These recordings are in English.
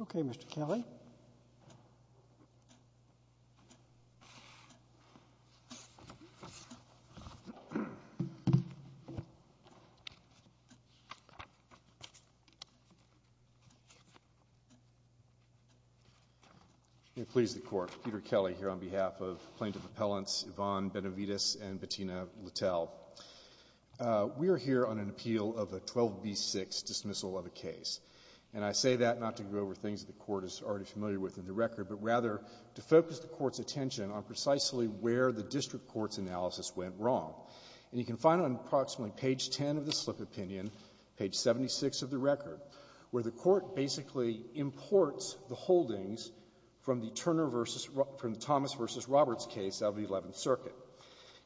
Okay, Mr. Kelly. May it please the Court, Peter Kelly here on behalf of Plaintiff Appellants Yvonne Benavides and Bettina Littel. We are here on an appeal of a 12B6 dismissal of a case, and I say that not to go over things the Court is already familiar with in the record, but rather to focus the Court's attention on precisely where the district court's analysis went wrong. And you can find on approximately page 10 of the slip opinion, page 76 of the record, where the Court basically imports the holdings from the Turner versus the Thomas v. Roberts case out of the Eleventh Circuit.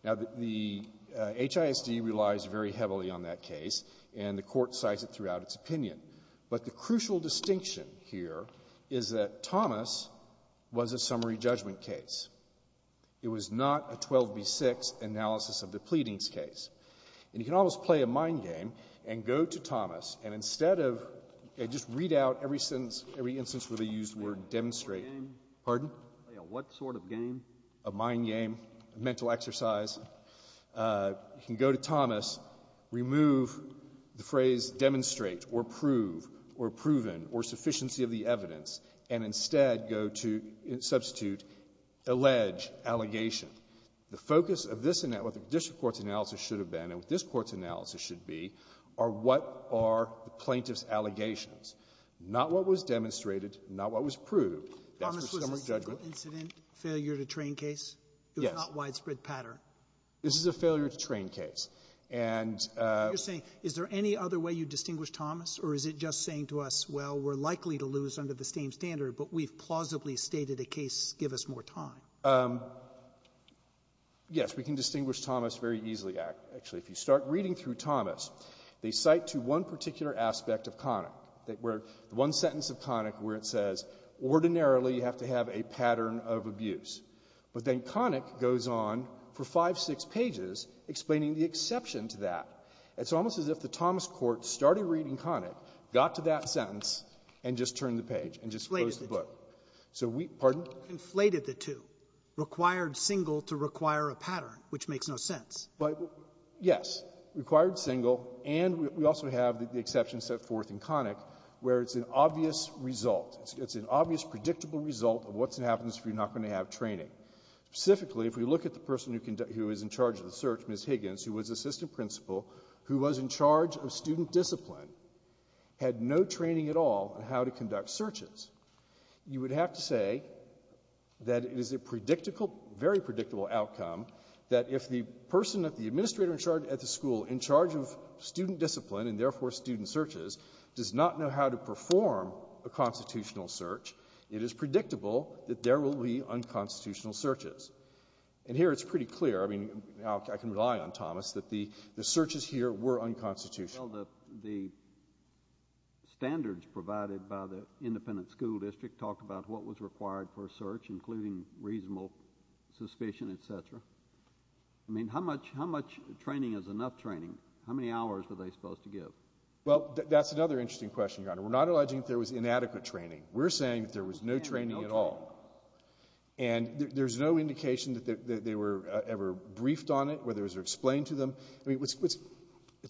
Now, the HISD relies very heavily on that case, and the Court cites it throughout But the crucial distinction here is that Thomas was a summary judgment case. It was not a 12B6 analysis of the pleadings case. And you can almost play a mind game and go to Thomas, and instead of just read out every sentence, every instance where they used the word demonstrate. Pardon? Play a what sort of game? A mind game, a mental exercise. You can go to Thomas, remove the phrase demonstrate or prove or proven or sufficiency of the evidence, and instead go to substitute, allege allegation. The focus of this analysis, what the district court's analysis should have been and what this court's analysis should be, are what are the plaintiff's allegations, not what was demonstrated, not what was proved. That's for summary judgment. Sotomayor's trial incident, failure-to-train case? Yes. It was not widespread pattern. This is a failure-to-train case. And you're saying, is there any other way you distinguish Thomas, or is it just saying to us, well, we're likely to lose under the same standard, but we've plausibly stated a case, give us more time? Yes. We can distinguish Thomas very easily, actually. If you start reading through Thomas, they cite to one particular aspect of Connick, that where the one sentence of Connick where it says, ordinarily, you have to have a pattern of abuse. But then Connick goes on for five, six pages explaining the exception to that. It's almost as if the Thomas court started reading Connick, got to that sentence, and just turned the page, and just closed the book. So we — pardon? Inflated the two. Required single to require a pattern, which makes no sense. But, yes. Required single, and we also have the exception set forth in Connick where it's an obvious result. It's an obvious, predictable result of what's going to happen if you're not going to have training. Specifically, if we look at the person who is in charge of the search, Ms. Higgins, who was assistant principal, who was in charge of student discipline, had no training at all in how to conduct searches, you would have to say that it is a predictable, very predictable outcome that if the person, if the administrator in charge at the school, in charge of student discipline and, therefore, student searches, does not know how to perform a constitutional search, it is predictable that there will be unconstitutional searches. And here, it's pretty clear. I mean, I can rely on Thomas that the searches here were unconstitutional. Well, the standards provided by the independent school district talked about what was required for a search, including reasonable suspicion, et cetera. I mean, how much training is enough training? How many hours were they supposed to give? Well, that's another interesting question, Your Honor. We're not alleging that there was inadequate training. We're saying that there was no training at all. And there's no indication that they were ever briefed on it, whether it was explained to them. I mean,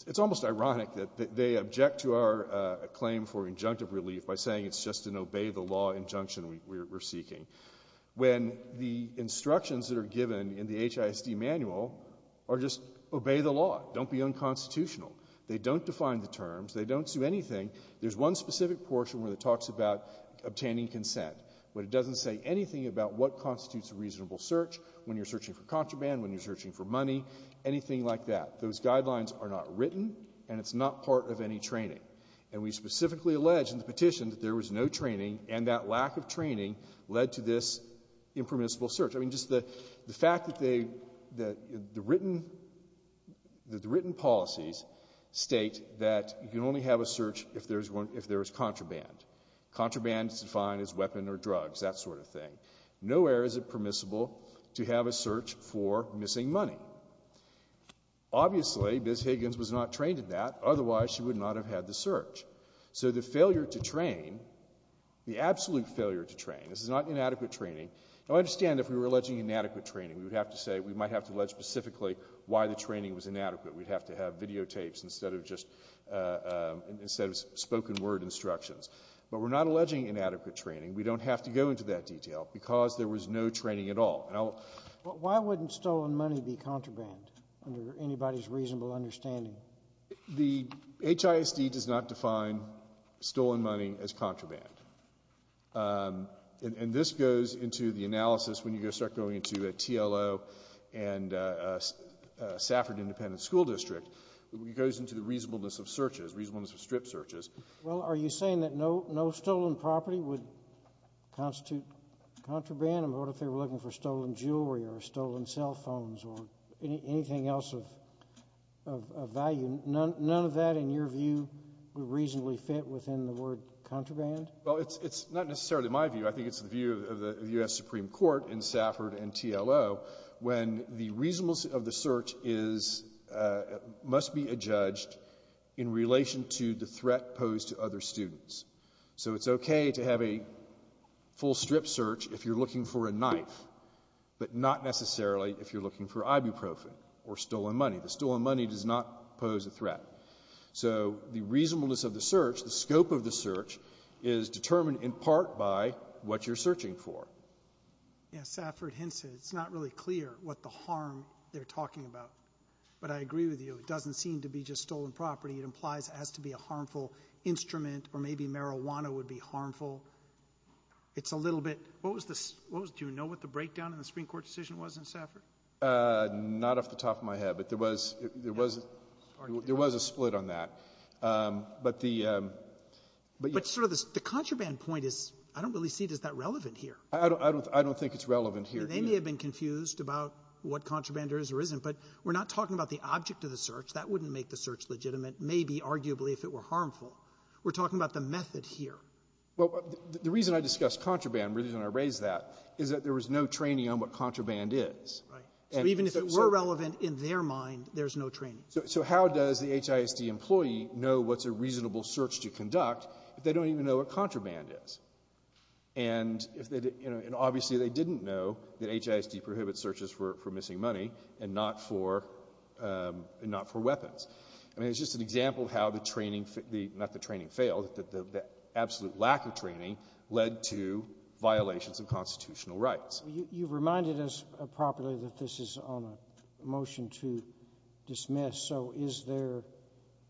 it's almost ironic that they object to our claim for injunctive relief by saying it's just an obey-the-law injunction we're seeking, when the instructions that are given in the HISD manual are just obey the law. Don't be unconstitutional. They don't define the terms. They don't do anything. There's one specific portion where it talks about obtaining consent, but it doesn't say anything about what constitutes a reasonable search, when you're searching for contraband, when you're searching for money, anything like that. Those guidelines are not written, and it's not part of any training. And we specifically allege in the petition that there was no training, and that lack of training led to this impermissible search. I mean, just the fact that the written policies state that you can only have a search if there's one — if there is contraband. Contraband is defined as weapon or drugs, that sort of thing. Nowhere is it permissible to have a search for missing money. Obviously, Ms. Higgins was not trained in that. Otherwise, she would not have had the search. So the failure to train, the absolute failure to train — this is not inadequate training. Now, I understand if we were alleging inadequate training, we would have to say — we might have to allege specifically why the training was inadequate. We'd have to have videotapes instead of just — instead of spoken word instructions. But we're not alleging inadequate training. We don't have to go into that detail, because there was no training at all. Why wouldn't stolen money be contraband, under anybody's reasonable understanding? The HISD does not define stolen money as contraband. And this goes into the analysis when you start going into a TLO and a Safford Independent School District. It goes into the reasonableness of searches, reasonableness of strip searches. Well, are you saying that no stolen property would constitute contraband? I mean, what if they were looking for stolen jewelry or stolen cell phones or anything else of value? None of that, in your view, would reasonably fit within the word contraband? Well, it's not necessarily my view. I think it's the view of the U.S. Supreme Court in Safford and TLO, when the reasonableness of the search is — must be adjudged in relation to the threat posed to other students. So it's okay to have a full strip search if you're looking for a knife, but not necessarily if you're looking for ibuprofen or stolen money. The stolen money does not pose a threat. So the reasonableness of the search, the scope of the search, is determined in part by what you're searching for. Yeah, Safford hints that it's not really clear what the harm they're talking about. But I agree with you. It doesn't seem to be just stolen property. It implies it has to be a harmful instrument, or maybe marijuana would be harmful. It's a little bit — What was the — do you know what the breakdown in the Supreme Court decision was in Safford? Not off the top of my head. But there was — there was — there was a split on that. But the — But sort of the contraband point is — I don't really see it as that relevant here. I don't — I don't think it's relevant here. They may have been confused about what contraband is or isn't. But we're not talking about the object of the search. That wouldn't make the search legitimate, maybe, arguably, if it were harmful. We're talking about the method here. Well, the reason I discussed contraband, the reason I raised that, is that there was no training on what contraband is. Right. So even if it were relevant in their mind, there's no training. So how does the HISD employee know what's a reasonable search to conduct if they don't even know what contraband is? And if they — you know, and obviously, they didn't know that HISD prohibits searches for missing money and not for — and not for weapons. I mean, it's just an example of how the training — not the training failed. The absolute lack of training led to violations of constitutional rights. You reminded us, properly, that this is on a motion to dismiss. So is there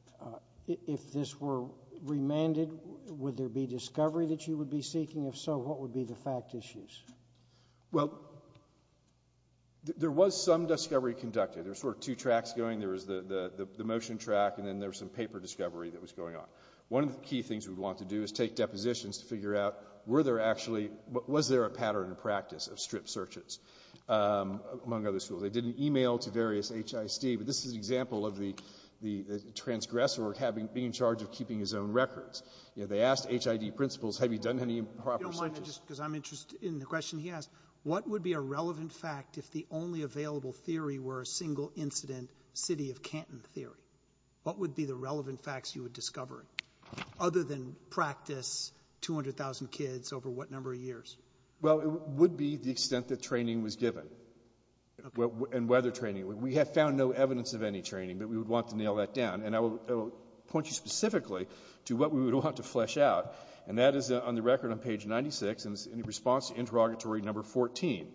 — if this were remanded, would there be discovery that you would be seeking? If so, what would be the fact issues? Well, there was some discovery conducted. There were sort of two tracks going. There was the motion track, and then there was some paper discovery that was going on. One of the key things we'd want to do is take depositions to figure out, were there actually — was there a pattern in practice of strip searches among other schools? They did an email to various HISD, but this is an example of the transgressor being in charge of keeping his own records. You know, they asked HID principals, have you done any improper searches? You don't mind, because I'm interested in the question he asked. What would be a relevant fact if the only available theory were a single-incident city of Canton theory? What would be the relevant facts you would discover, other than practice 200,000 kids over what number of years? Well, it would be the extent that training was given, and whether training — we have found no evidence of any training, but we would want to nail that down. And I will point you specifically to what we would want to flesh out, and that is on the record on page 96, and it's in response to interrogatory number 14,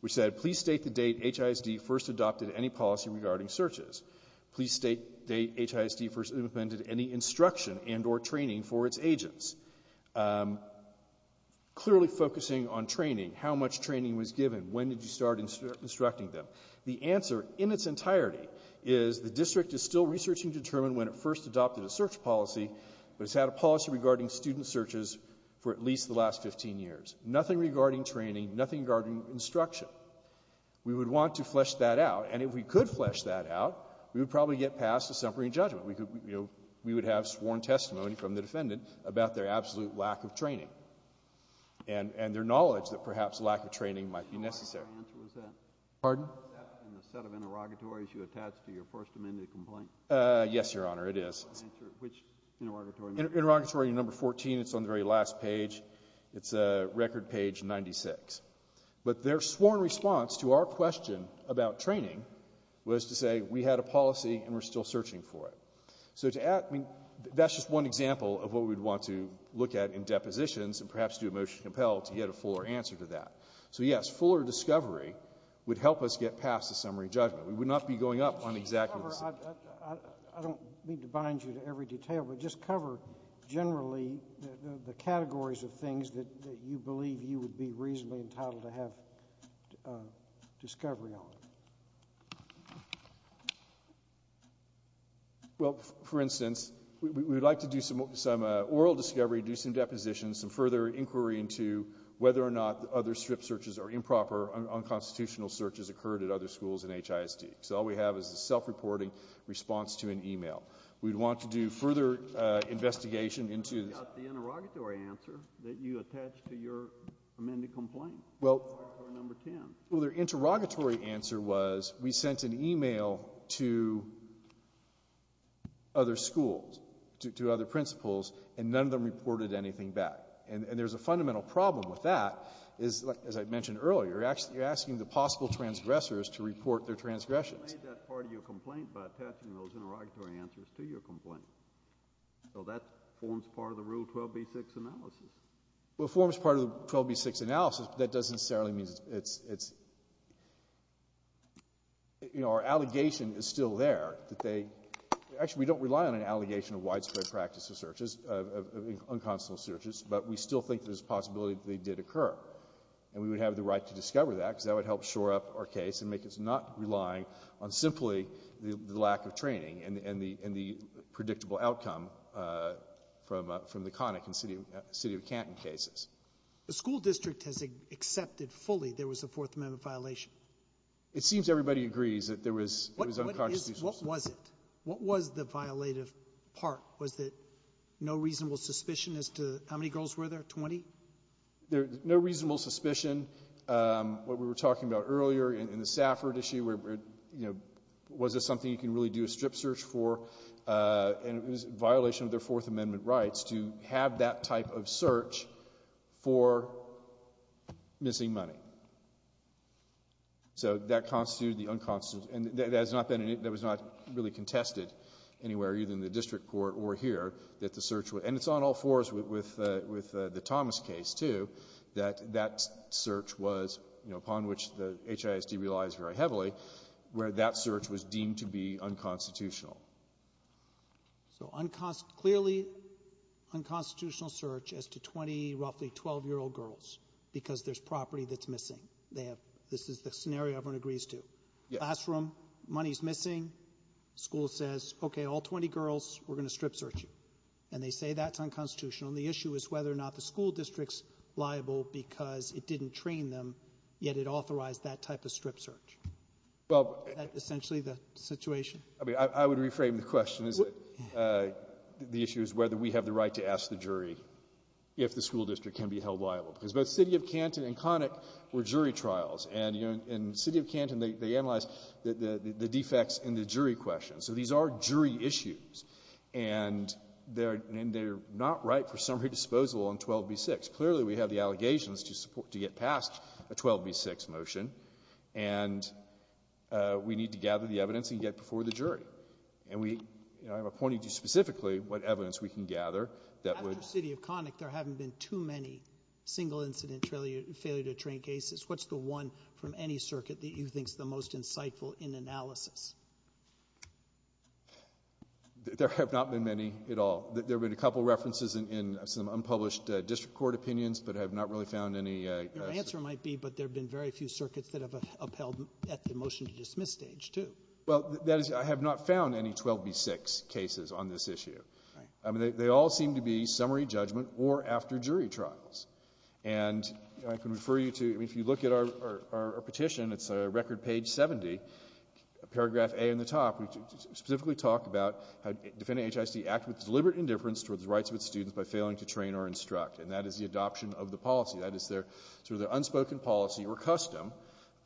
which said, please state the date HISD first adopted any policy regarding searches. Please state the date HISD first implemented any instruction and or training for its agents. Clearly focusing on training, how much training was given, when did you start instructing them? The answer in its entirety is the district is still researching to determine when it first adopted a search policy, but it's had a policy regarding student searches for at least the last 15 years. Nothing regarding training, nothing regarding instruction. We would want to flesh that out, and if we could flesh that out, we would probably get passed a summary judgment. We would have sworn testimony from the defendant about their absolute lack of training, and their knowledge that perhaps lack of training might be necessary. Your answer was that? Pardon? Was that in the set of interrogatories you attached to your First Amendment complaint? Yes, Your Honor, it is. Which interrogatory number? Interrogatory number 14. It's on the very last page. It's record page 96. But their sworn response to our question about training was to say we had a policy and we're still searching for it. So to add, I mean, that's just one example of what we would want to look at in depositions and perhaps do a motion to compel to get a fuller answer to that. So, yes, fuller discovery would help us get past the summary judgment. We would not be going up on exactly the same. I don't mean to bind you to every detail, but just cover generally the categories of things that you believe you would be reasonably entitled to have discovery on. Well, for instance, we would like to do some oral discovery, do some depositions, some further inquiry into whether or not the other strip searches are improper, unconstitutional searches occurred at other schools in HISD. So all we have is a self-reporting response to an e-mail. We'd want to do further investigation into the ---- Well, the interrogatory answer was we sent an e-mail to other schools, to other principals, and none of them reported anything back. And there's a fundamental problem with that is, as I mentioned earlier, you're asking the possible transgressors to report their transgressions. Well, we made that part of your complaint by attaching those interrogatory answers to your complaint. So that forms part of the Rule 12b-6 analysis. Well, it forms part of the 12b-6 analysis, but that doesn't necessarily mean it's ---- you know, our allegation is still there that they ---- actually, we don't rely on an allegation of widespread practice of searches, of unconstitutional searches, but we still think there's a possibility that they did occur. And we would have the right to discover that because that would help shore up our relying on simply the lack of training and the predictable outcome from the Connick and City of Canton cases. The school district has accepted fully there was a Fourth Amendment violation. It seems everybody agrees that there was unconstitutional searches. What was it? What was the violative part? Was it no reasonable suspicion as to how many girls were there, 20? No reasonable suspicion. What we were talking about earlier in the Safford issue, you know, was this something you can really do a strip search for? And it was a violation of their Fourth Amendment rights to have that type of search for missing money. So that constitutes the unconstitutional. And that has not been ---- that was not really contested anywhere, either in the district court or here, that the search was. And it's on all fours with the Thomas case, too, that that search was, you know, upon which the HISD relies very heavily, where that search was deemed to be unconstitutional. So clearly unconstitutional search as to 20 roughly 12-year-old girls because there's property that's missing. This is the scenario everyone agrees to. Classroom, money's missing. School says, okay, all 20 girls, we're going to strip search you. And they say that's unconstitutional. And the issue is whether or not the school district's liable because it didn't train them, yet it authorized that type of strip search. That's essentially the situation. I mean, I would reframe the question. The issue is whether we have the right to ask the jury if the school district can be held liable. Because both City of Canton and Connick were jury trials. And, you know, in City of Canton, they analyzed the defects in the jury questions. So these are jury issues. And they're not right for summary disposal on 12b-6. Clearly, we have the allegations to get past a 12b-6 motion. And we need to gather the evidence and get before the jury. And we, you know, I'm appointing to you specifically what evidence we can gather that would ---- After City of Connick, there haven't been too many single incident failure to train cases. What's the one from any circuit that you think is the most insightful in analysis? There have not been many at all. There have been a couple of references in some unpublished district court opinions, but I have not really found any ---- Your answer might be, but there have been very few circuits that have upheld at the motion-to-dismiss stage, too. Well, that is, I have not found any 12b-6 cases on this issue. Right. I mean, they all seem to be summary judgment or after jury trials. And I can refer you to, I mean, if you look at our petition, it's record page 70, paragraph A in the top. We specifically talk about how defendant HIST acted with deliberate indifference towards the rights of its students by failing to train or instruct. And that is the adoption of the policy. That is their unspoken policy or custom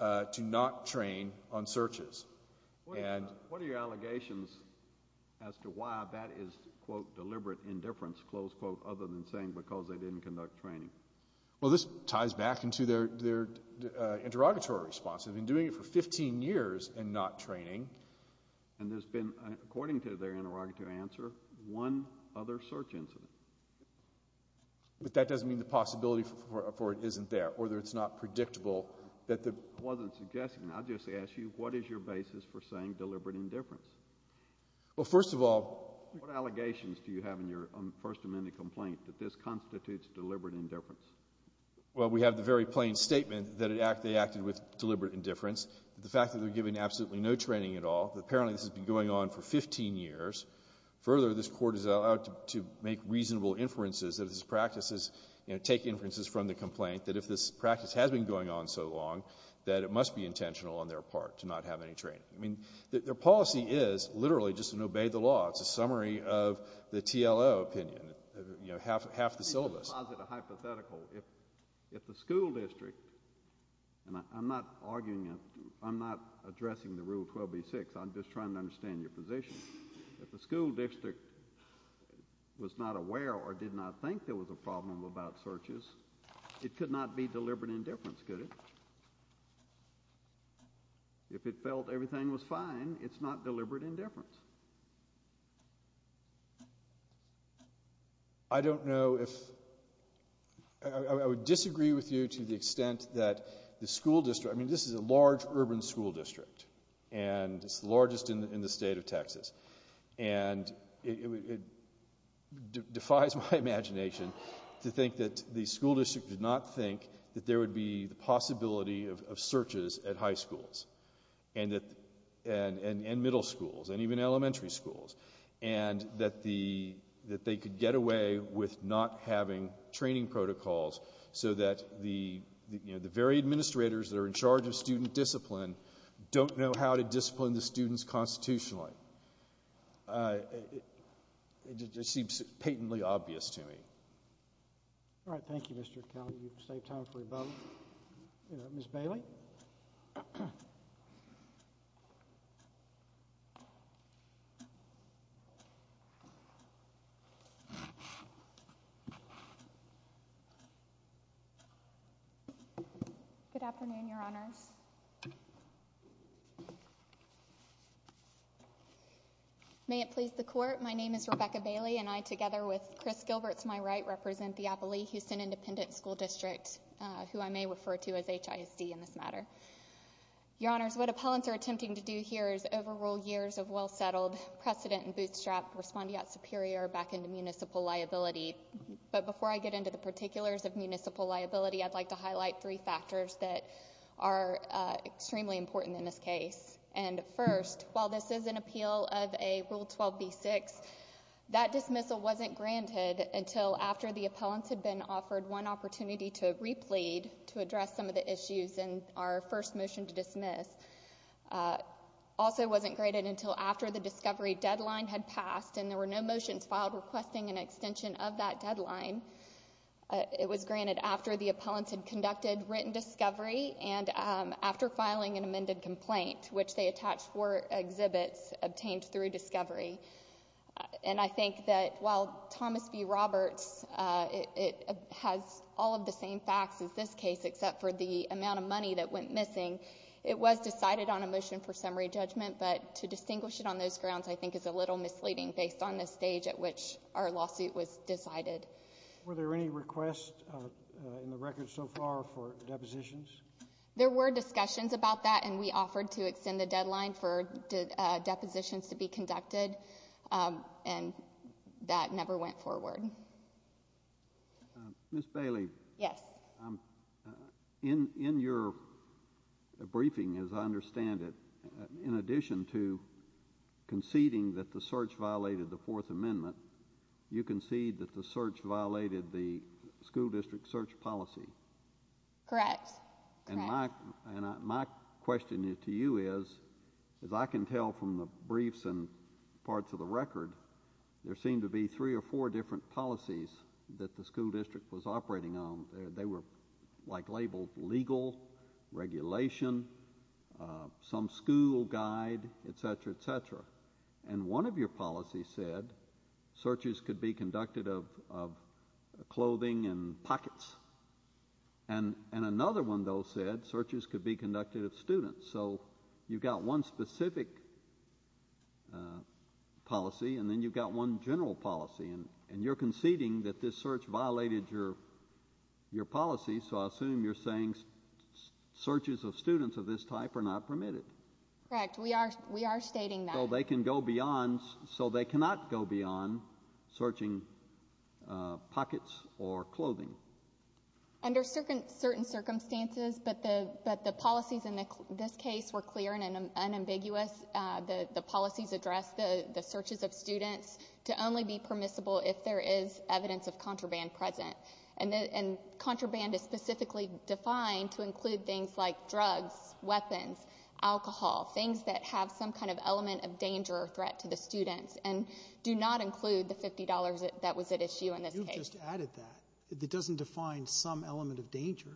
to not train on searches. And ---- What are your allegations as to why that is, quote, deliberate indifference, close quote, other than saying because they didn't conduct training? Well, this ties back into their interrogatory response. They've been doing it for 15 years and not training. And there's been, according to their interrogatory answer, one other search incident. But that doesn't mean the possibility for it isn't there or that it's not predictable that the ---- I wasn't suggesting. I just asked you what is your basis for saying deliberate indifference? Well, first of all ---- What allegations do you have in your First Amendment complaint that this constitutes deliberate indifference? Well, we have the very plain statement that they acted with deliberate indifference, the fact that they're given absolutely no training at all, that apparently this has been going on for 15 years. Further, this Court is allowed to make reasonable inferences that this practice is, you know, take inferences from the complaint that if this practice has been going on so long that it must be intentional on their part to not have any training. I mean, their policy is literally just an obey the law. It's a summary of the TLO opinion, you know, half the syllabus. Let me just posit a hypothetical. If the school district ---- and I'm not arguing it. I'm not addressing the Rule 12b-6. I'm just trying to understand your position. If the school district was not aware or did not think there was a problem about searches, it could not be deliberate indifference, could it? If it felt everything was fine, it's not deliberate indifference. I don't know if ---- I would disagree with you to the extent that the school district ---- I mean, this is a large urban school district, and it's the largest in the state of Texas. And it defies my imagination to think that the school district did not think that there would be the possibility of searches at high schools and middle schools and even elementary schools, and that they could get away with not having training protocols so that the very administrators that are in charge of student discipline don't know how to discipline the students constitutionally. It just seems patently obvious to me. All right. Thank you, Mr. Kelly. You've saved time for your vote. Ms. Bailey. Good afternoon, Your Honors. May it please the Court, my name is Rebecca Bailey, and I, together with Chris Gilberts, my right, represent the Appalachian Independent School District, who I may refer to as HISD in this matter. Your Honors, what appellants are attempting to do here is overrule years of well-settled precedent and bootstrap respondeat superior back into municipal liability. But before I get into the particulars of municipal liability, I'd like to highlight three factors that are extremely important in this case. And first, while this is an appeal of a Rule 12b-6, that dismissal wasn't granted until after the appellants had been offered one opportunity to replead to address some of the issues in our first motion to dismiss. Also, it wasn't granted until after the discovery deadline had passed and there were no motions filed requesting an extension of that deadline. It was granted after the appellants had conducted written discovery and after filing an amended complaint, which they attached four exhibits obtained through discovery. And I think that while Thomas B. Roberts has all of the same facts as this case, except for the amount of money that went missing, it was decided on a motion for summary judgment, but to distinguish it on those grounds I think is a little misleading based on the stage at which our lawsuit was decided. Were there any requests in the record so far for depositions? There were discussions about that, and we offered to extend the deadline for depositions to be conducted, and that never went forward. Ms. Bailey. Yes. In your briefing, as I understand it, in addition to conceding that the search violated the Fourth Amendment, you conceded that the search violated the school district search policy. Correct. And my question to you is, as I can tell from the briefs and parts of the record, there seemed to be three or four different policies that the school district was operating on. They were labeled legal, regulation, some school guide, et cetera, et cetera. And one of your policies said searches could be conducted of clothing and pockets, and another one, though, said searches could be conducted of students. So you've got one specific policy, and then you've got one general policy, and you're conceding that this search violated your policy, so I assume you're saying searches of students of this type are not permitted. Correct. We are stating that. So they can go beyond so they cannot go beyond searching pockets or clothing. Under certain circumstances, but the policies in this case were clear and unambiguous. The policies addressed the searches of students to only be permissible if there is evidence of contraband present. And contraband is specifically defined to include things like drugs, weapons, alcohol, things that have some kind of element of danger or threat to the students and do not include the $50 that was at issue in this case. You've just added that. It doesn't define some element of danger.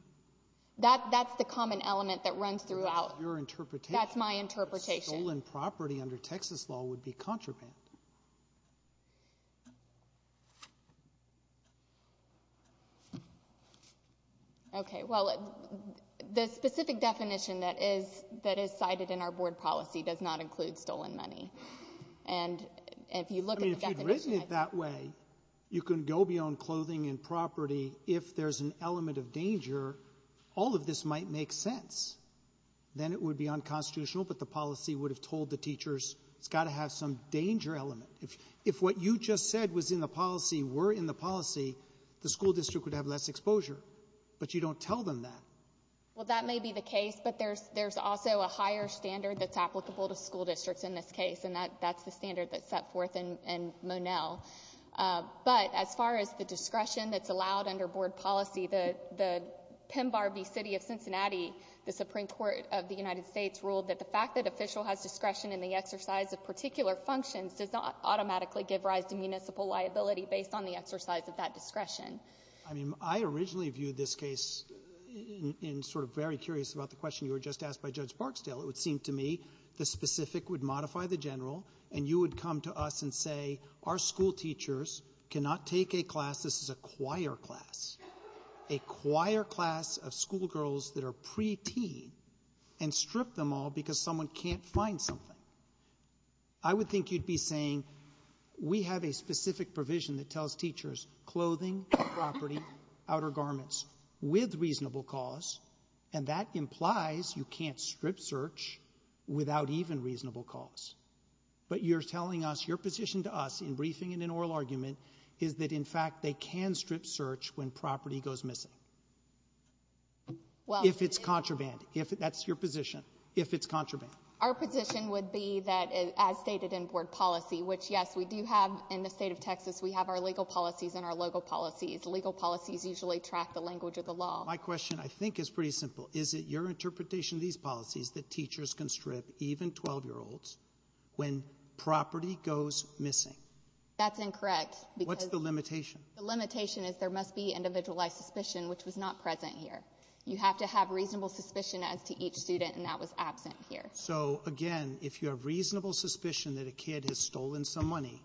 That's the common element that runs throughout. That's your interpretation. That's my interpretation. Stolen property under Texas law would be contraband. Okay. Well, the specific definition that is cited in our board policy does not include stolen money. And if you look at the definition of that ---- I mean, if you'd written it that way, you can go beyond clothing and property. If there's an element of danger, all of this might make sense. Then it would be unconstitutional, but the policy would have told the teachers it's got to have some danger element. If what you just said was in the policy were in the policy, the school district would have less exposure. But you don't tell them that. Well, that may be the case, but there's also a higher standard that's applicable to school districts in this case, and that's the standard that's set forth in Monell. But as far as the discretion that's allowed under board policy, the Pembarby City of Cincinnati, the Supreme Court of the United States, ruled that the fact that official has discretion in the exercise of particular functions does not automatically give rise to municipal liability based on the exercise of that discretion. I mean, I originally viewed this case in sort of very curious about the question you were just asked by Judge Barksdale. It would seem to me the specific would modify the general, and you would come to us and say our school teachers cannot take a class, this is a choir class, a choir class of schoolgirls that are preteen and strip them all because someone can't find something. I would think you'd be saying we have a specific provision that tells teachers clothing, property, outer garments, with reasonable cause, and that implies you can't strip search without even reasonable cause. But you're telling us your position to us in briefing and in oral argument is that, in fact, they can strip search when property goes missing. If it's contraband. That's your position. If it's contraband. Our position would be that, as stated in board policy, which, yes, we do have in the State of Texas, we have our legal policies and our local policies. Legal policies usually track the language of the law. My question, I think, is pretty simple. Is it your interpretation of these policies that teachers can strip even 12-year-olds when property goes missing? That's incorrect. What's the limitation? The limitation is there must be individualized suspicion, which was not present here. You have to have reasonable suspicion as to each student, and that was absent here. So, again, if you have reasonable suspicion that a kid has stolen some money,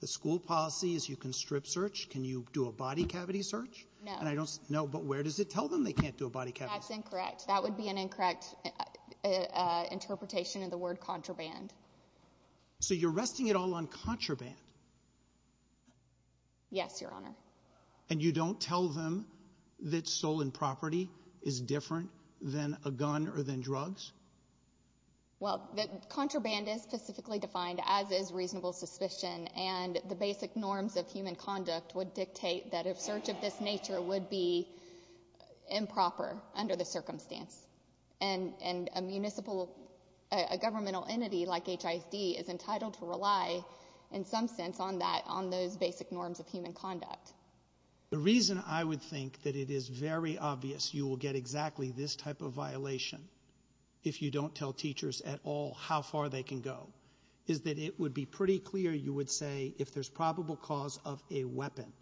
the school policy is you can strip search. Can you do a body cavity search? No. No, but where does it tell them they can't do a body cavity search? That's incorrect. That would be an incorrect interpretation of the word contraband. So you're resting it all on contraband? Yes, Your Honor. And you don't tell them that stolen property is different than a gun or than drugs? Well, contraband is specifically defined as is reasonable suspicion, and the basic norms of human conduct would dictate that a search of this nature would be improper under the circumstance, and a municipal governmental entity like HISD is entitled to rely in some sense on that, on those basic norms of human conduct. The reason I would think that it is very obvious you will get exactly this type of violation if you don't tell teachers at all how far they can go is that it would be pretty clear you would say if there's probable cause of a weapon,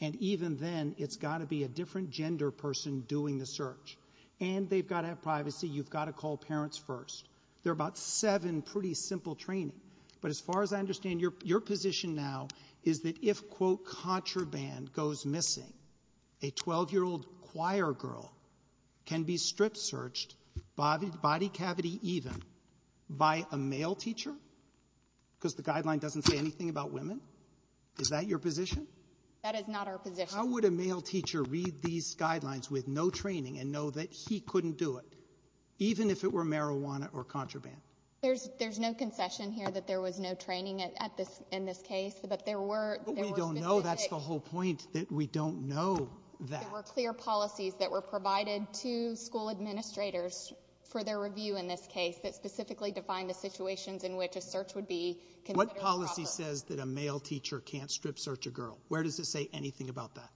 and even then, it's got to be a different gender person doing the search, and they've got to have privacy. You've got to call parents first. There are about seven pretty simple training, but as far as I understand, your position now is that if, quote, contraband goes missing, a 12-year-old choir girl can be strip searched, body cavity even, by a male teacher because the guideline doesn't say anything about women? Is that your position? That is not our position. How would a male teacher read these guidelines with no training and know that he couldn't do it, even if it were marijuana or contraband? There's no concession here that there was no training at this — in this case, but there were specific — But we don't know. That's the whole point, that we don't know that. There were clear policies that were provided to school administrators for their review in this case that specifically defined the situations in which a search would be considered improper. What policy says that a male teacher can't strip search a girl? Where does it say anything about that?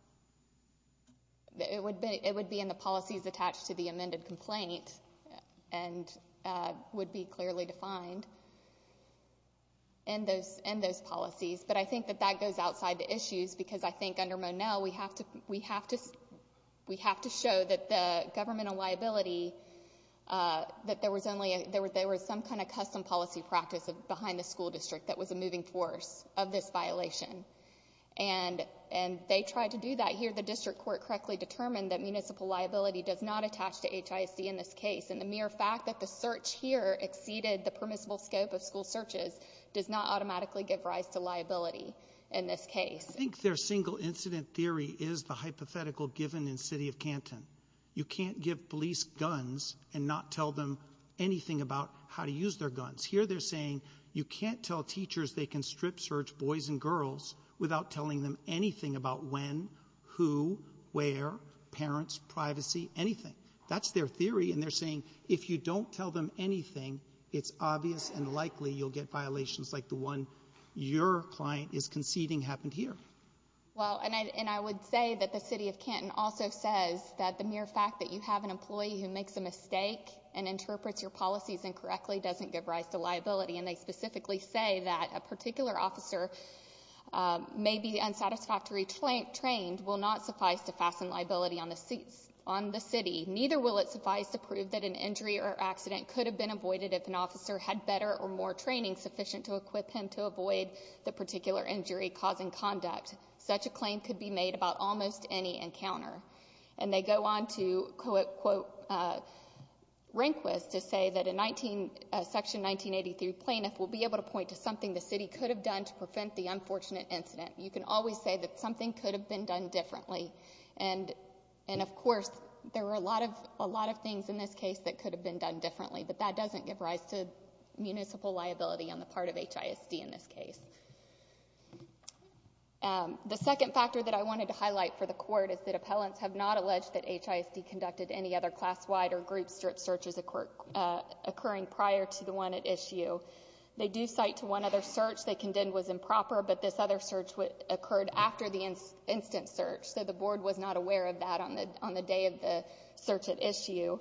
It would be in the policies attached to the amended complaint and would be clearly defined in those policies, but I think that that goes outside the issues because I think under Monell, we have to show that the governmental liability — that there was only — there was some kind of custom policy practice behind the school district that was a moving force of this violation, and they tried to do that here. The district court correctly determined that municipal liability does not attach to HISD in this case, and the mere fact that the search here exceeded the permissible scope of school searches does not automatically give rise to liability in this case. I think their single incident theory is the hypothetical given in City of Canton. You can't give police guns and not tell them anything about how to use their guns. Here, they're saying you can't tell teachers they can strip search boys and girls without telling them anything about when, who, where, parents, privacy, anything. That's their theory, and they're saying if you don't tell them anything, it's obvious and likely you'll get violations like the one your client is conceding happened here. Well, and I would say that the City of Canton also says that the mere fact that you have an employee who makes a mistake and interprets your policies incorrectly doesn't give rise to liability, and they specifically say that a particular officer may be unsatisfactory trained will not suffice to fasten liability on the city. Neither will it suffice to prove that an injury or accident could have been avoided if an officer had better or more training sufficient to equip him to avoid the particular injury causing conduct. Such a claim could be made about almost any encounter. And they go on to quote Rehnquist to say that a section 1983 plaintiff will be able to point to something the city could have done to prevent the unfortunate incident. You can always say that something could have been done differently. And, of course, there were a lot of things in this case that could have been done differently, but that doesn't give rise to municipal liability on the part of HISD in this case. The second factor that I wanted to highlight for the Court is that appellants have not alleged that HISD conducted any other class-wide or group-strip searches occurring prior to the one at issue. They do cite to one other search they condemned was improper, but this other search occurred after the instant search, so the Board was not aware of that on the day of the search at issue.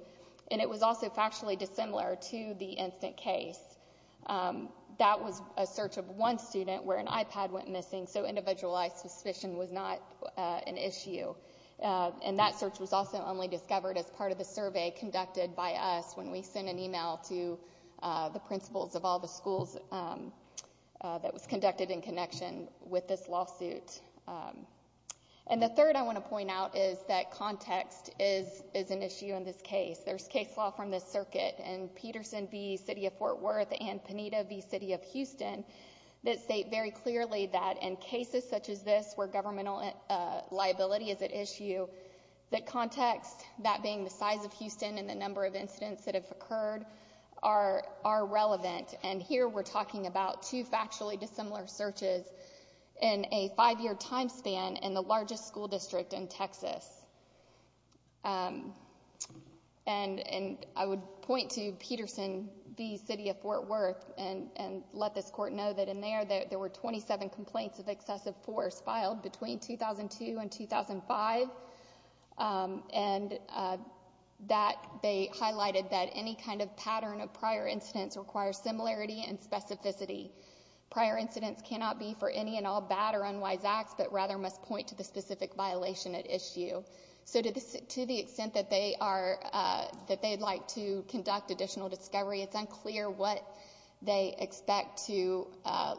And it was also factually dissimilar to the instant case. That was a search of one student where an iPad went missing, so individualized suspicion was not an issue. And that search was also only discovered as part of the survey conducted by us when we sent an email to the principals of all the schools that was conducted in connection with this lawsuit. And the third I want to point out is that context is an issue in this case. There's case law from the circuit in Peterson v. City of Fort Worth and Panetta v. City of Houston that state very clearly that in cases such as this where governmental liability is at issue, that context, that being the size of Houston and the number of incidents that have occurred, are relevant. And here we're talking about two factually dissimilar searches in a five-year time span in the largest school district in Texas. And I would point to Peterson v. City of Fort Worth and let this Court know that in there, there were 27 complaints of excessive force filed between 2002 and 2005, and that they highlighted that any kind of pattern of prior incidents requires similarity and specificity. Prior incidents cannot be for any and all bad or unwise acts, but rather must point to the specific violation at issue. So to the extent that they'd like to conduct additional discovery, it's unclear what they expect to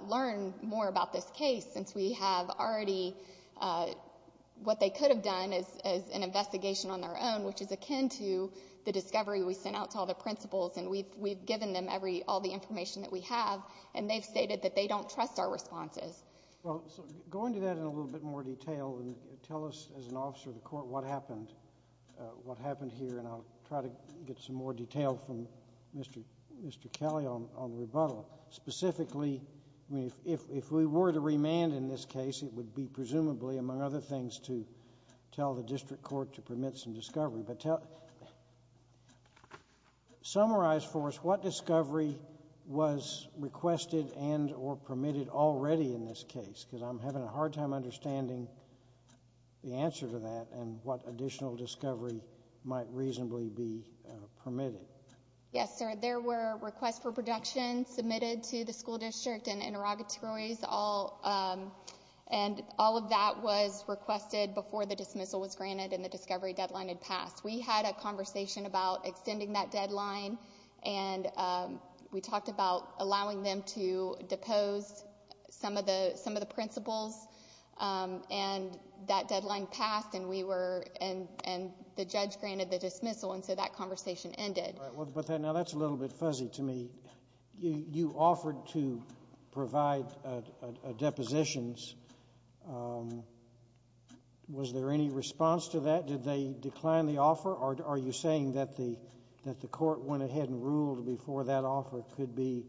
learn more about this case, since we have already what they could have done is an investigation on their own, which is akin to the discovery we sent out to all the principals, and we've given them all the information that we have, and they've stated that they don't trust our responses. So going into that in a little bit more detail, tell us as an officer of the Court what happened here, and I'll try to get some more detail from Mr. Kelly on the rebuttal. Specifically, I mean, if we were to remand in this case, it would be presumably, among other things, to tell the district court to permit some discovery. But summarize for us what discovery was requested and or permitted already in this case, because I'm having a hard time understanding the answer to that and what additional discovery might reasonably be permitted. Yes, sir. There were requests for production submitted to the school district and interrogatories, and all of that was requested before the dismissal was granted and the discovery deadline had passed. We had a conversation about extending that deadline, and we talked about allowing them to depose some of the principals, and that deadline passed, and we were, and the judge granted the dismissal, and so that conversation ended. All right. Now, that's a little bit fuzzy to me. You offered to provide depositions. Was there any response to that? Did they decline the offer? Are you saying that the court went ahead and ruled before that offer could be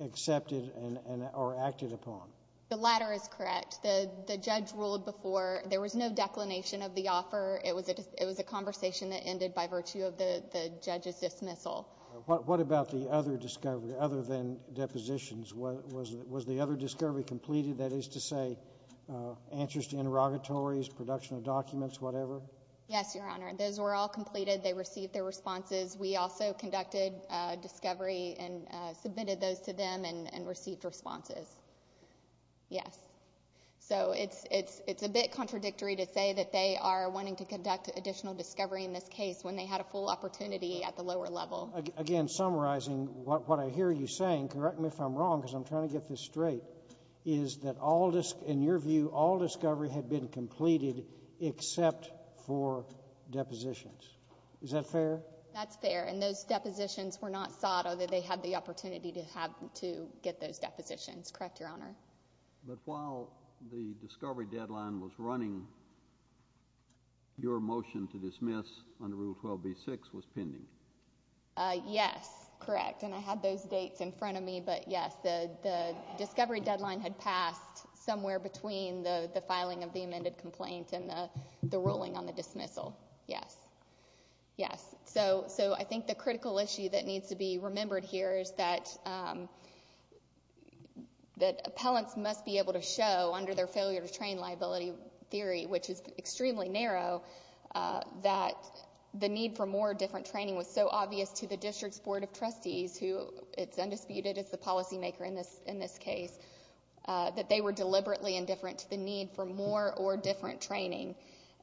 accepted and or acted upon? The latter is correct. The judge ruled before. There was no declination of the offer. It was a conversation that ended by virtue of the judge's dismissal. What about the other discovery, other than depositions? Was the other discovery completed, that is to say, answers to interrogatories, production of documents, whatever? Yes, Your Honor. Those were all completed. They received their responses. We also conducted discovery and submitted those to them and received responses. Yes. So it's a bit contradictory to say that they are wanting to conduct additional discovery in this case when they had a full opportunity at the lower level. Again, summarizing what I hear you saying, correct me if I'm wrong because I'm trying to get this straight, is that, in your view, all discovery had been completed except for depositions. Is that fair? That's fair. And those depositions were not sought, although they had the opportunity to get those depositions, correct, Your Honor? But while the discovery deadline was running, your motion to dismiss under Rule 12b-6 was pending. Yes, correct. And I had those dates in front of me. But, yes, the discovery deadline had passed somewhere between the filing of the amended complaint and the ruling on the dismissal. Yes. Yes. So I think the critical issue that needs to be remembered here is that appellants must be able to show, under their failure-to-train liability theory, which is extremely narrow, that the need for more different training was so obvious to the district's board of trustees, who it's undisputed is the policymaker in this case, that they were deliberately indifferent to the need for more or different training.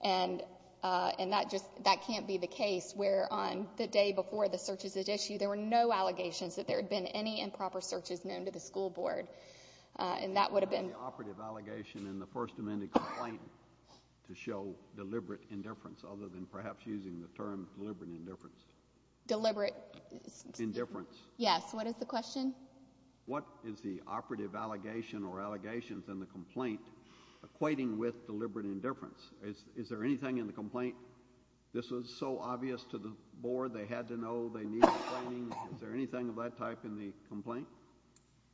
And that just can't be the case where, on the day before the searches at issue, there were no allegations that there had been any improper searches known to the school board. And that would have been— The operative allegation in the First Amendment complaint to show deliberate indifference, other than perhaps using the term deliberate indifference. Deliberate— Indifference. Yes. What is the question? What is the operative allegation or allegations in the complaint equating with deliberate indifference? Is there anything in the complaint, this was so obvious to the board, they had to know they needed training? Is there anything of that type in the complaint?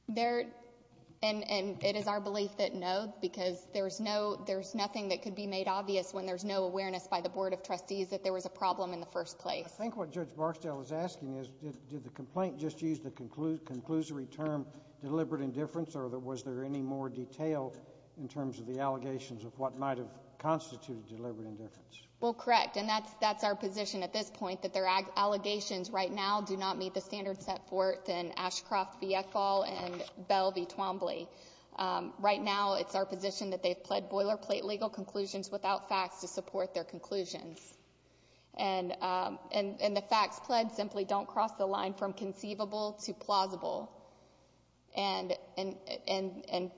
There—and it is our belief that no, because there's nothing that could be made obvious when there's no awareness by the board of trustees that there was a problem in the first place. I think what Judge Barksdale is asking is, did the complaint just use the conclusory term deliberate indifference, or was there any more detail in terms of the allegations of what might have constituted deliberate indifference? Well, correct. And that's our position at this point, that their allegations right now do not meet the standards set forth in Ashcroft v. Eckball and Bell v. Twombly. Right now, it's our position that they've pled boilerplate legal conclusions without facts to support their conclusions. And the facts pled simply don't cross the line from conceivable to plausible. And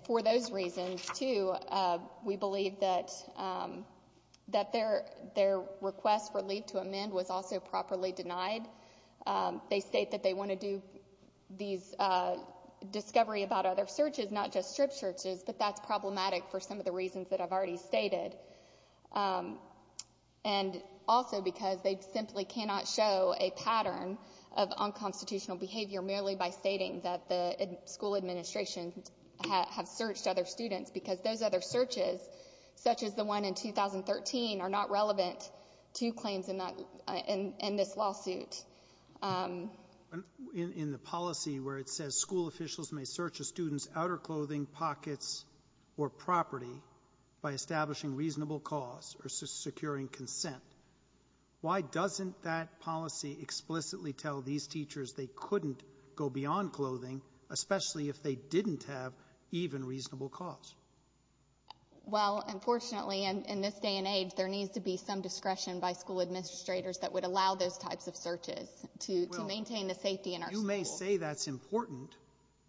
for those reasons, too, we believe that their request for leave to amend was also properly denied. They state that they want to do these discovery about other searches, not just strip searches, but that's problematic for some of the reasons that I've already stated. And also because they simply cannot show a pattern of unconstitutional behavior merely by stating that the school administration has searched other students because those other searches, such as the one in 2013, are not relevant to claims in this lawsuit. In the policy where it says school officials may search a student's outer clothing, pockets, or property by establishing reasonable cause or securing consent, why doesn't that policy explicitly tell these teachers they couldn't go beyond clothing, especially if they didn't have even reasonable cause? Well, unfortunately, in this day and age, there needs to be some discretion by school administrators that would allow those types of searches to maintain the safety in our school. They say that's important,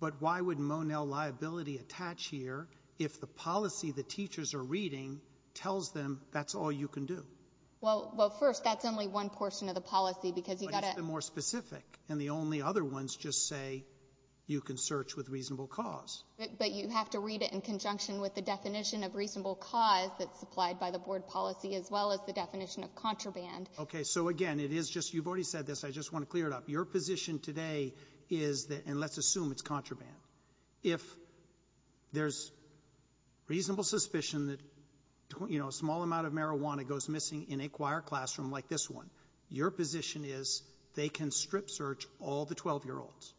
but why would Monell liability attach here if the policy the teachers are reading tells them that's all you can do? Well, first, that's only one portion of the policy because you've got to — But it's the more specific, and the only other ones just say you can search with reasonable cause. But you have to read it in conjunction with the definition of reasonable cause that's supplied by the board policy as well as the definition of contraband. Okay. So, again, it is just — you've already said this. I just want to clear it up. Your position today is that — and let's assume it's contraband. If there's reasonable suspicion that, you know, a small amount of marijuana goes missing in a choir classroom like this one, your position is they can strip search all the 12-year-olds.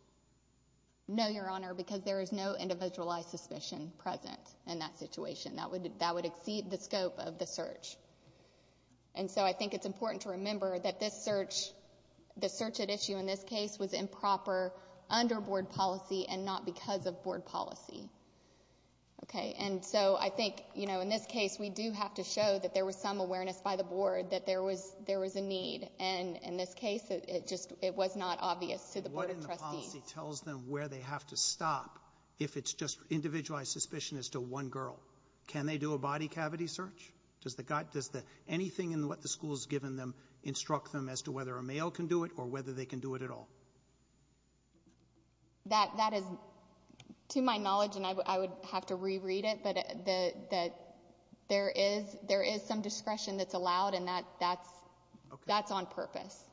No, Your Honor, because there is no individualized suspicion present in that situation. That would exceed the scope of the search. And so I think it's important to remember that this search, the search at issue in this case, was improper under board policy and not because of board policy. Okay. And so I think, you know, in this case, we do have to show that there was some awareness by the board that there was a need. And in this case, it just — it was not obvious to the board of trustees. What in the policy tells them where they have to stop if it's just individualized suspicion as to one girl? Can they do a body cavity search? Does the — anything in what the school has given them instruct them as to whether a male can do it or whether they can do it at all? That is, to my knowledge, and I would have to reread it, but there is some discretion that's allowed, and that's on purpose.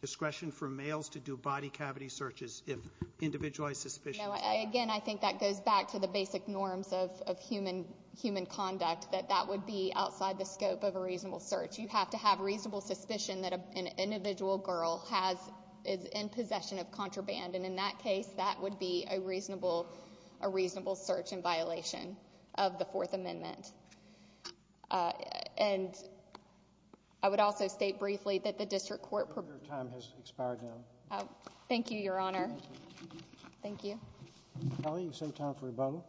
Discretion for males to do body cavity searches if individualized suspicion is found. No, again, I think that goes back to the basic norms of human conduct, that that would be outside the scope of a reasonable search. You have to have reasonable suspicion that an individual girl has — is in possession of contraband. And in that case, that would be a reasonable search in violation of the Fourth Amendment. And I would also state briefly that the district court — Your time has expired now. Thank you, Your Honor. Thank you. Kelly, you save time for rebuttal.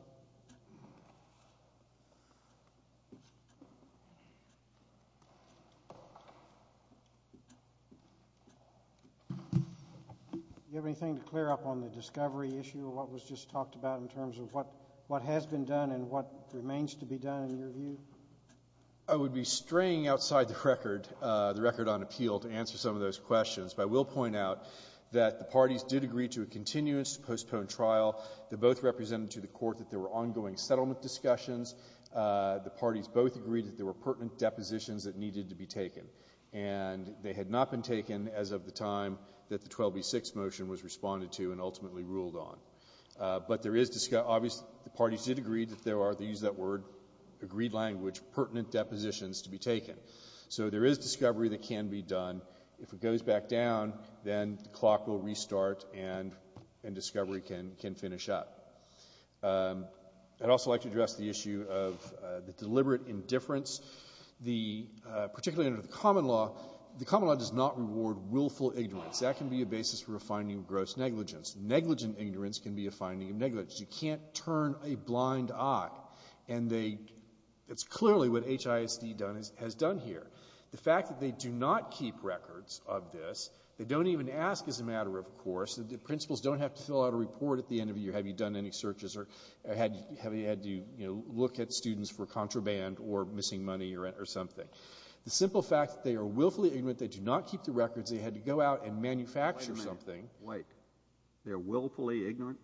Do you have anything to clear up on the discovery issue of what was just talked about in terms of what has been done and what remains to be done, in your view? I would be straying outside the record, the record on appeal, to answer some of those questions. But I will point out that the parties did agree to a continuous, postponed trial. They both represented to the Court that there were ongoing settlement discussions. The parties both agreed that there were pertinent depositions that needed to be taken. And they had not been taken as of the time that the 12b-6 motion was responded to and ultimately ruled on. But there is — obviously, the parties did agree that there are — they used that word — agreed language, pertinent depositions to be taken. So there is discovery that can be done. If it goes back down, then the clock will restart and discovery can finish up. I'd also like to address the issue of the deliberate indifference, particularly under the common law. The common law does not reward willful ignorance. That can be a basis for a finding of gross negligence. Negligent ignorance can be a finding of negligence. You can't turn a blind eye. And it's clearly what HISD has done here. The fact that they do not keep records of this, they don't even ask as a matter of course, the principals don't have to fill out a report at the end of the year, have you done any searches or have you had to, you know, look at students for contraband or missing money or something. The simple fact that they are willfully ignorant, they do not keep the records, they had to go out and manufacture something. Kennedy. Wait a minute. Wait. They're willfully ignorant?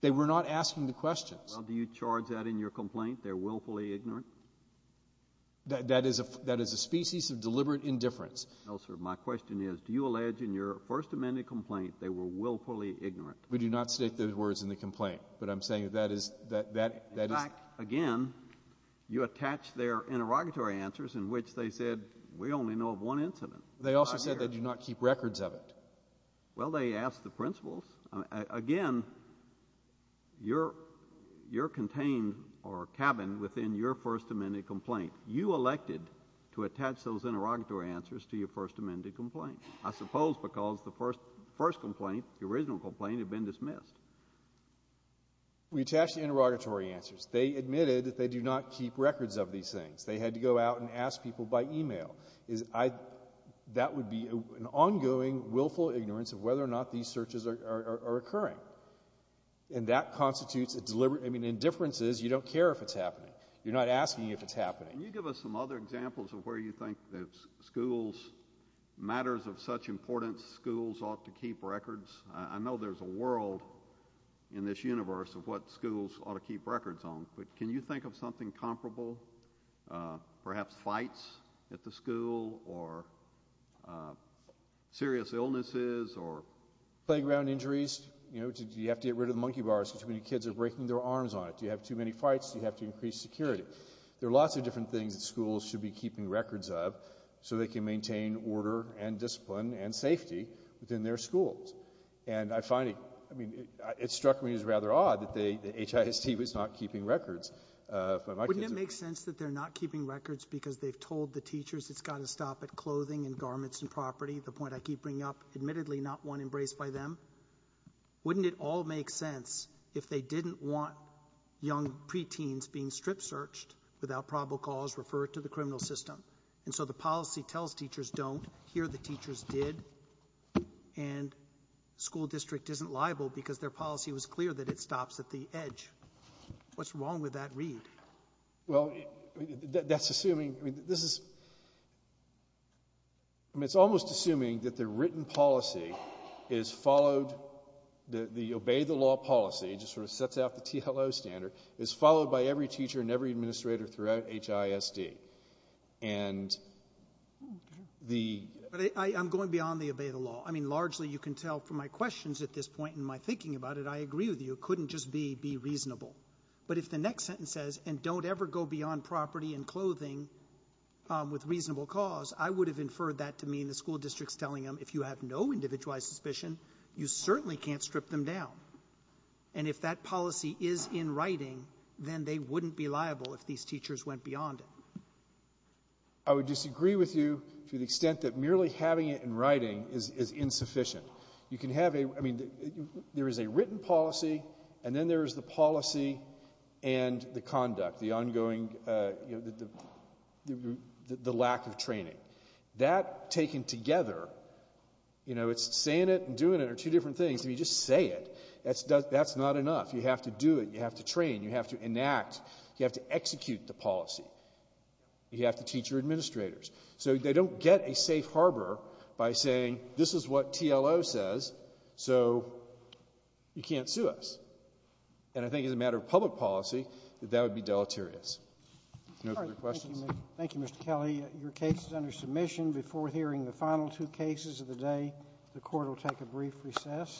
They were not asking the questions. Well, do you charge that in your complaint, they're willfully ignorant? That is a species of deliberate indifference. No, sir. My question is, do you allege in your First Amendment complaint they were willfully ignorant? We do not state those words in the complaint, but I'm saying that is — In fact, again, you attach their interrogatory answers in which they said, we only know of one incident. They also said they do not keep records of it. Well, they asked the principals. Again, you're contained or cabined within your First Amendment complaint. You elected to attach those interrogatory answers to your First Amendment complaint, I suppose because the first complaint, the original complaint, had been dismissed. We attached the interrogatory answers. They admitted that they do not keep records of these things. That would be an ongoing willful ignorance of whether or not these searches are occurring. And that constitutes a deliberate — I mean, indifference is you don't care if it's happening. You're not asking if it's happening. Can you give us some other examples of where you think that schools, matters of such importance, schools ought to keep records? I know there's a world in this universe of what schools ought to keep records on, but can you think of something comparable? Perhaps fights at the school or serious illnesses or — Playground injuries. You know, do you have to get rid of the monkey bars because too many kids are breaking their arms on it? Do you have too many fights? Do you have to increase security? There are lots of different things that schools should be keeping records of so they can maintain order and discipline and safety within their schools. And I find it — I mean, it struck me as rather odd that the HIST was not keeping records. Wouldn't it make sense that they're not keeping records because they've told the teachers it's got to stop at clothing and garments and property, the point I keep bringing up, admittedly not one embraced by them? Wouldn't it all make sense if they didn't want young preteens being strip-searched without probable cause referred to the criminal system? And so the policy tells teachers don't. Here the teachers did. And school district isn't liable because their policy was clear that it stops at the edge. What's wrong with that read? Well, that's assuming — I mean, this is — I mean, it's almost assuming that the written policy is followed — the obey-the-law policy, just sort of sets out the TLO standard, is followed by every teacher and every administrator throughout HIST. And the — But I'm going beyond the obey-the-law. I mean, largely you can tell from my questions at this point and my thinking about it, I agree with you. It couldn't just be be reasonable. But if the next sentence says, and don't ever go beyond property and clothing with reasonable cause, I would have inferred that to mean the school district's telling them if you have no individualized suspicion, you certainly can't strip them down. And if that policy is in writing, then they wouldn't be liable if these teachers went beyond it. I would disagree with you to the extent that merely having it in writing is insufficient. You can have a — I mean, there is a written policy, and then there is the policy and the conduct, the ongoing — the lack of training. That taken together, you know, it's saying it and doing it are two different things. If you just say it, that's not enough. You have to do it. You have to train. You have to enact. You have to execute the policy. You have to teach your administrators. So they don't get a safe harbor by saying this is what TLO says, so you can't sue us. And I think as a matter of public policy, that that would be deleterious. No further questions? Thank you, Mr. Kelly. Your case is under submission. Before hearing the final two cases of the day, the Court will take a brief recess.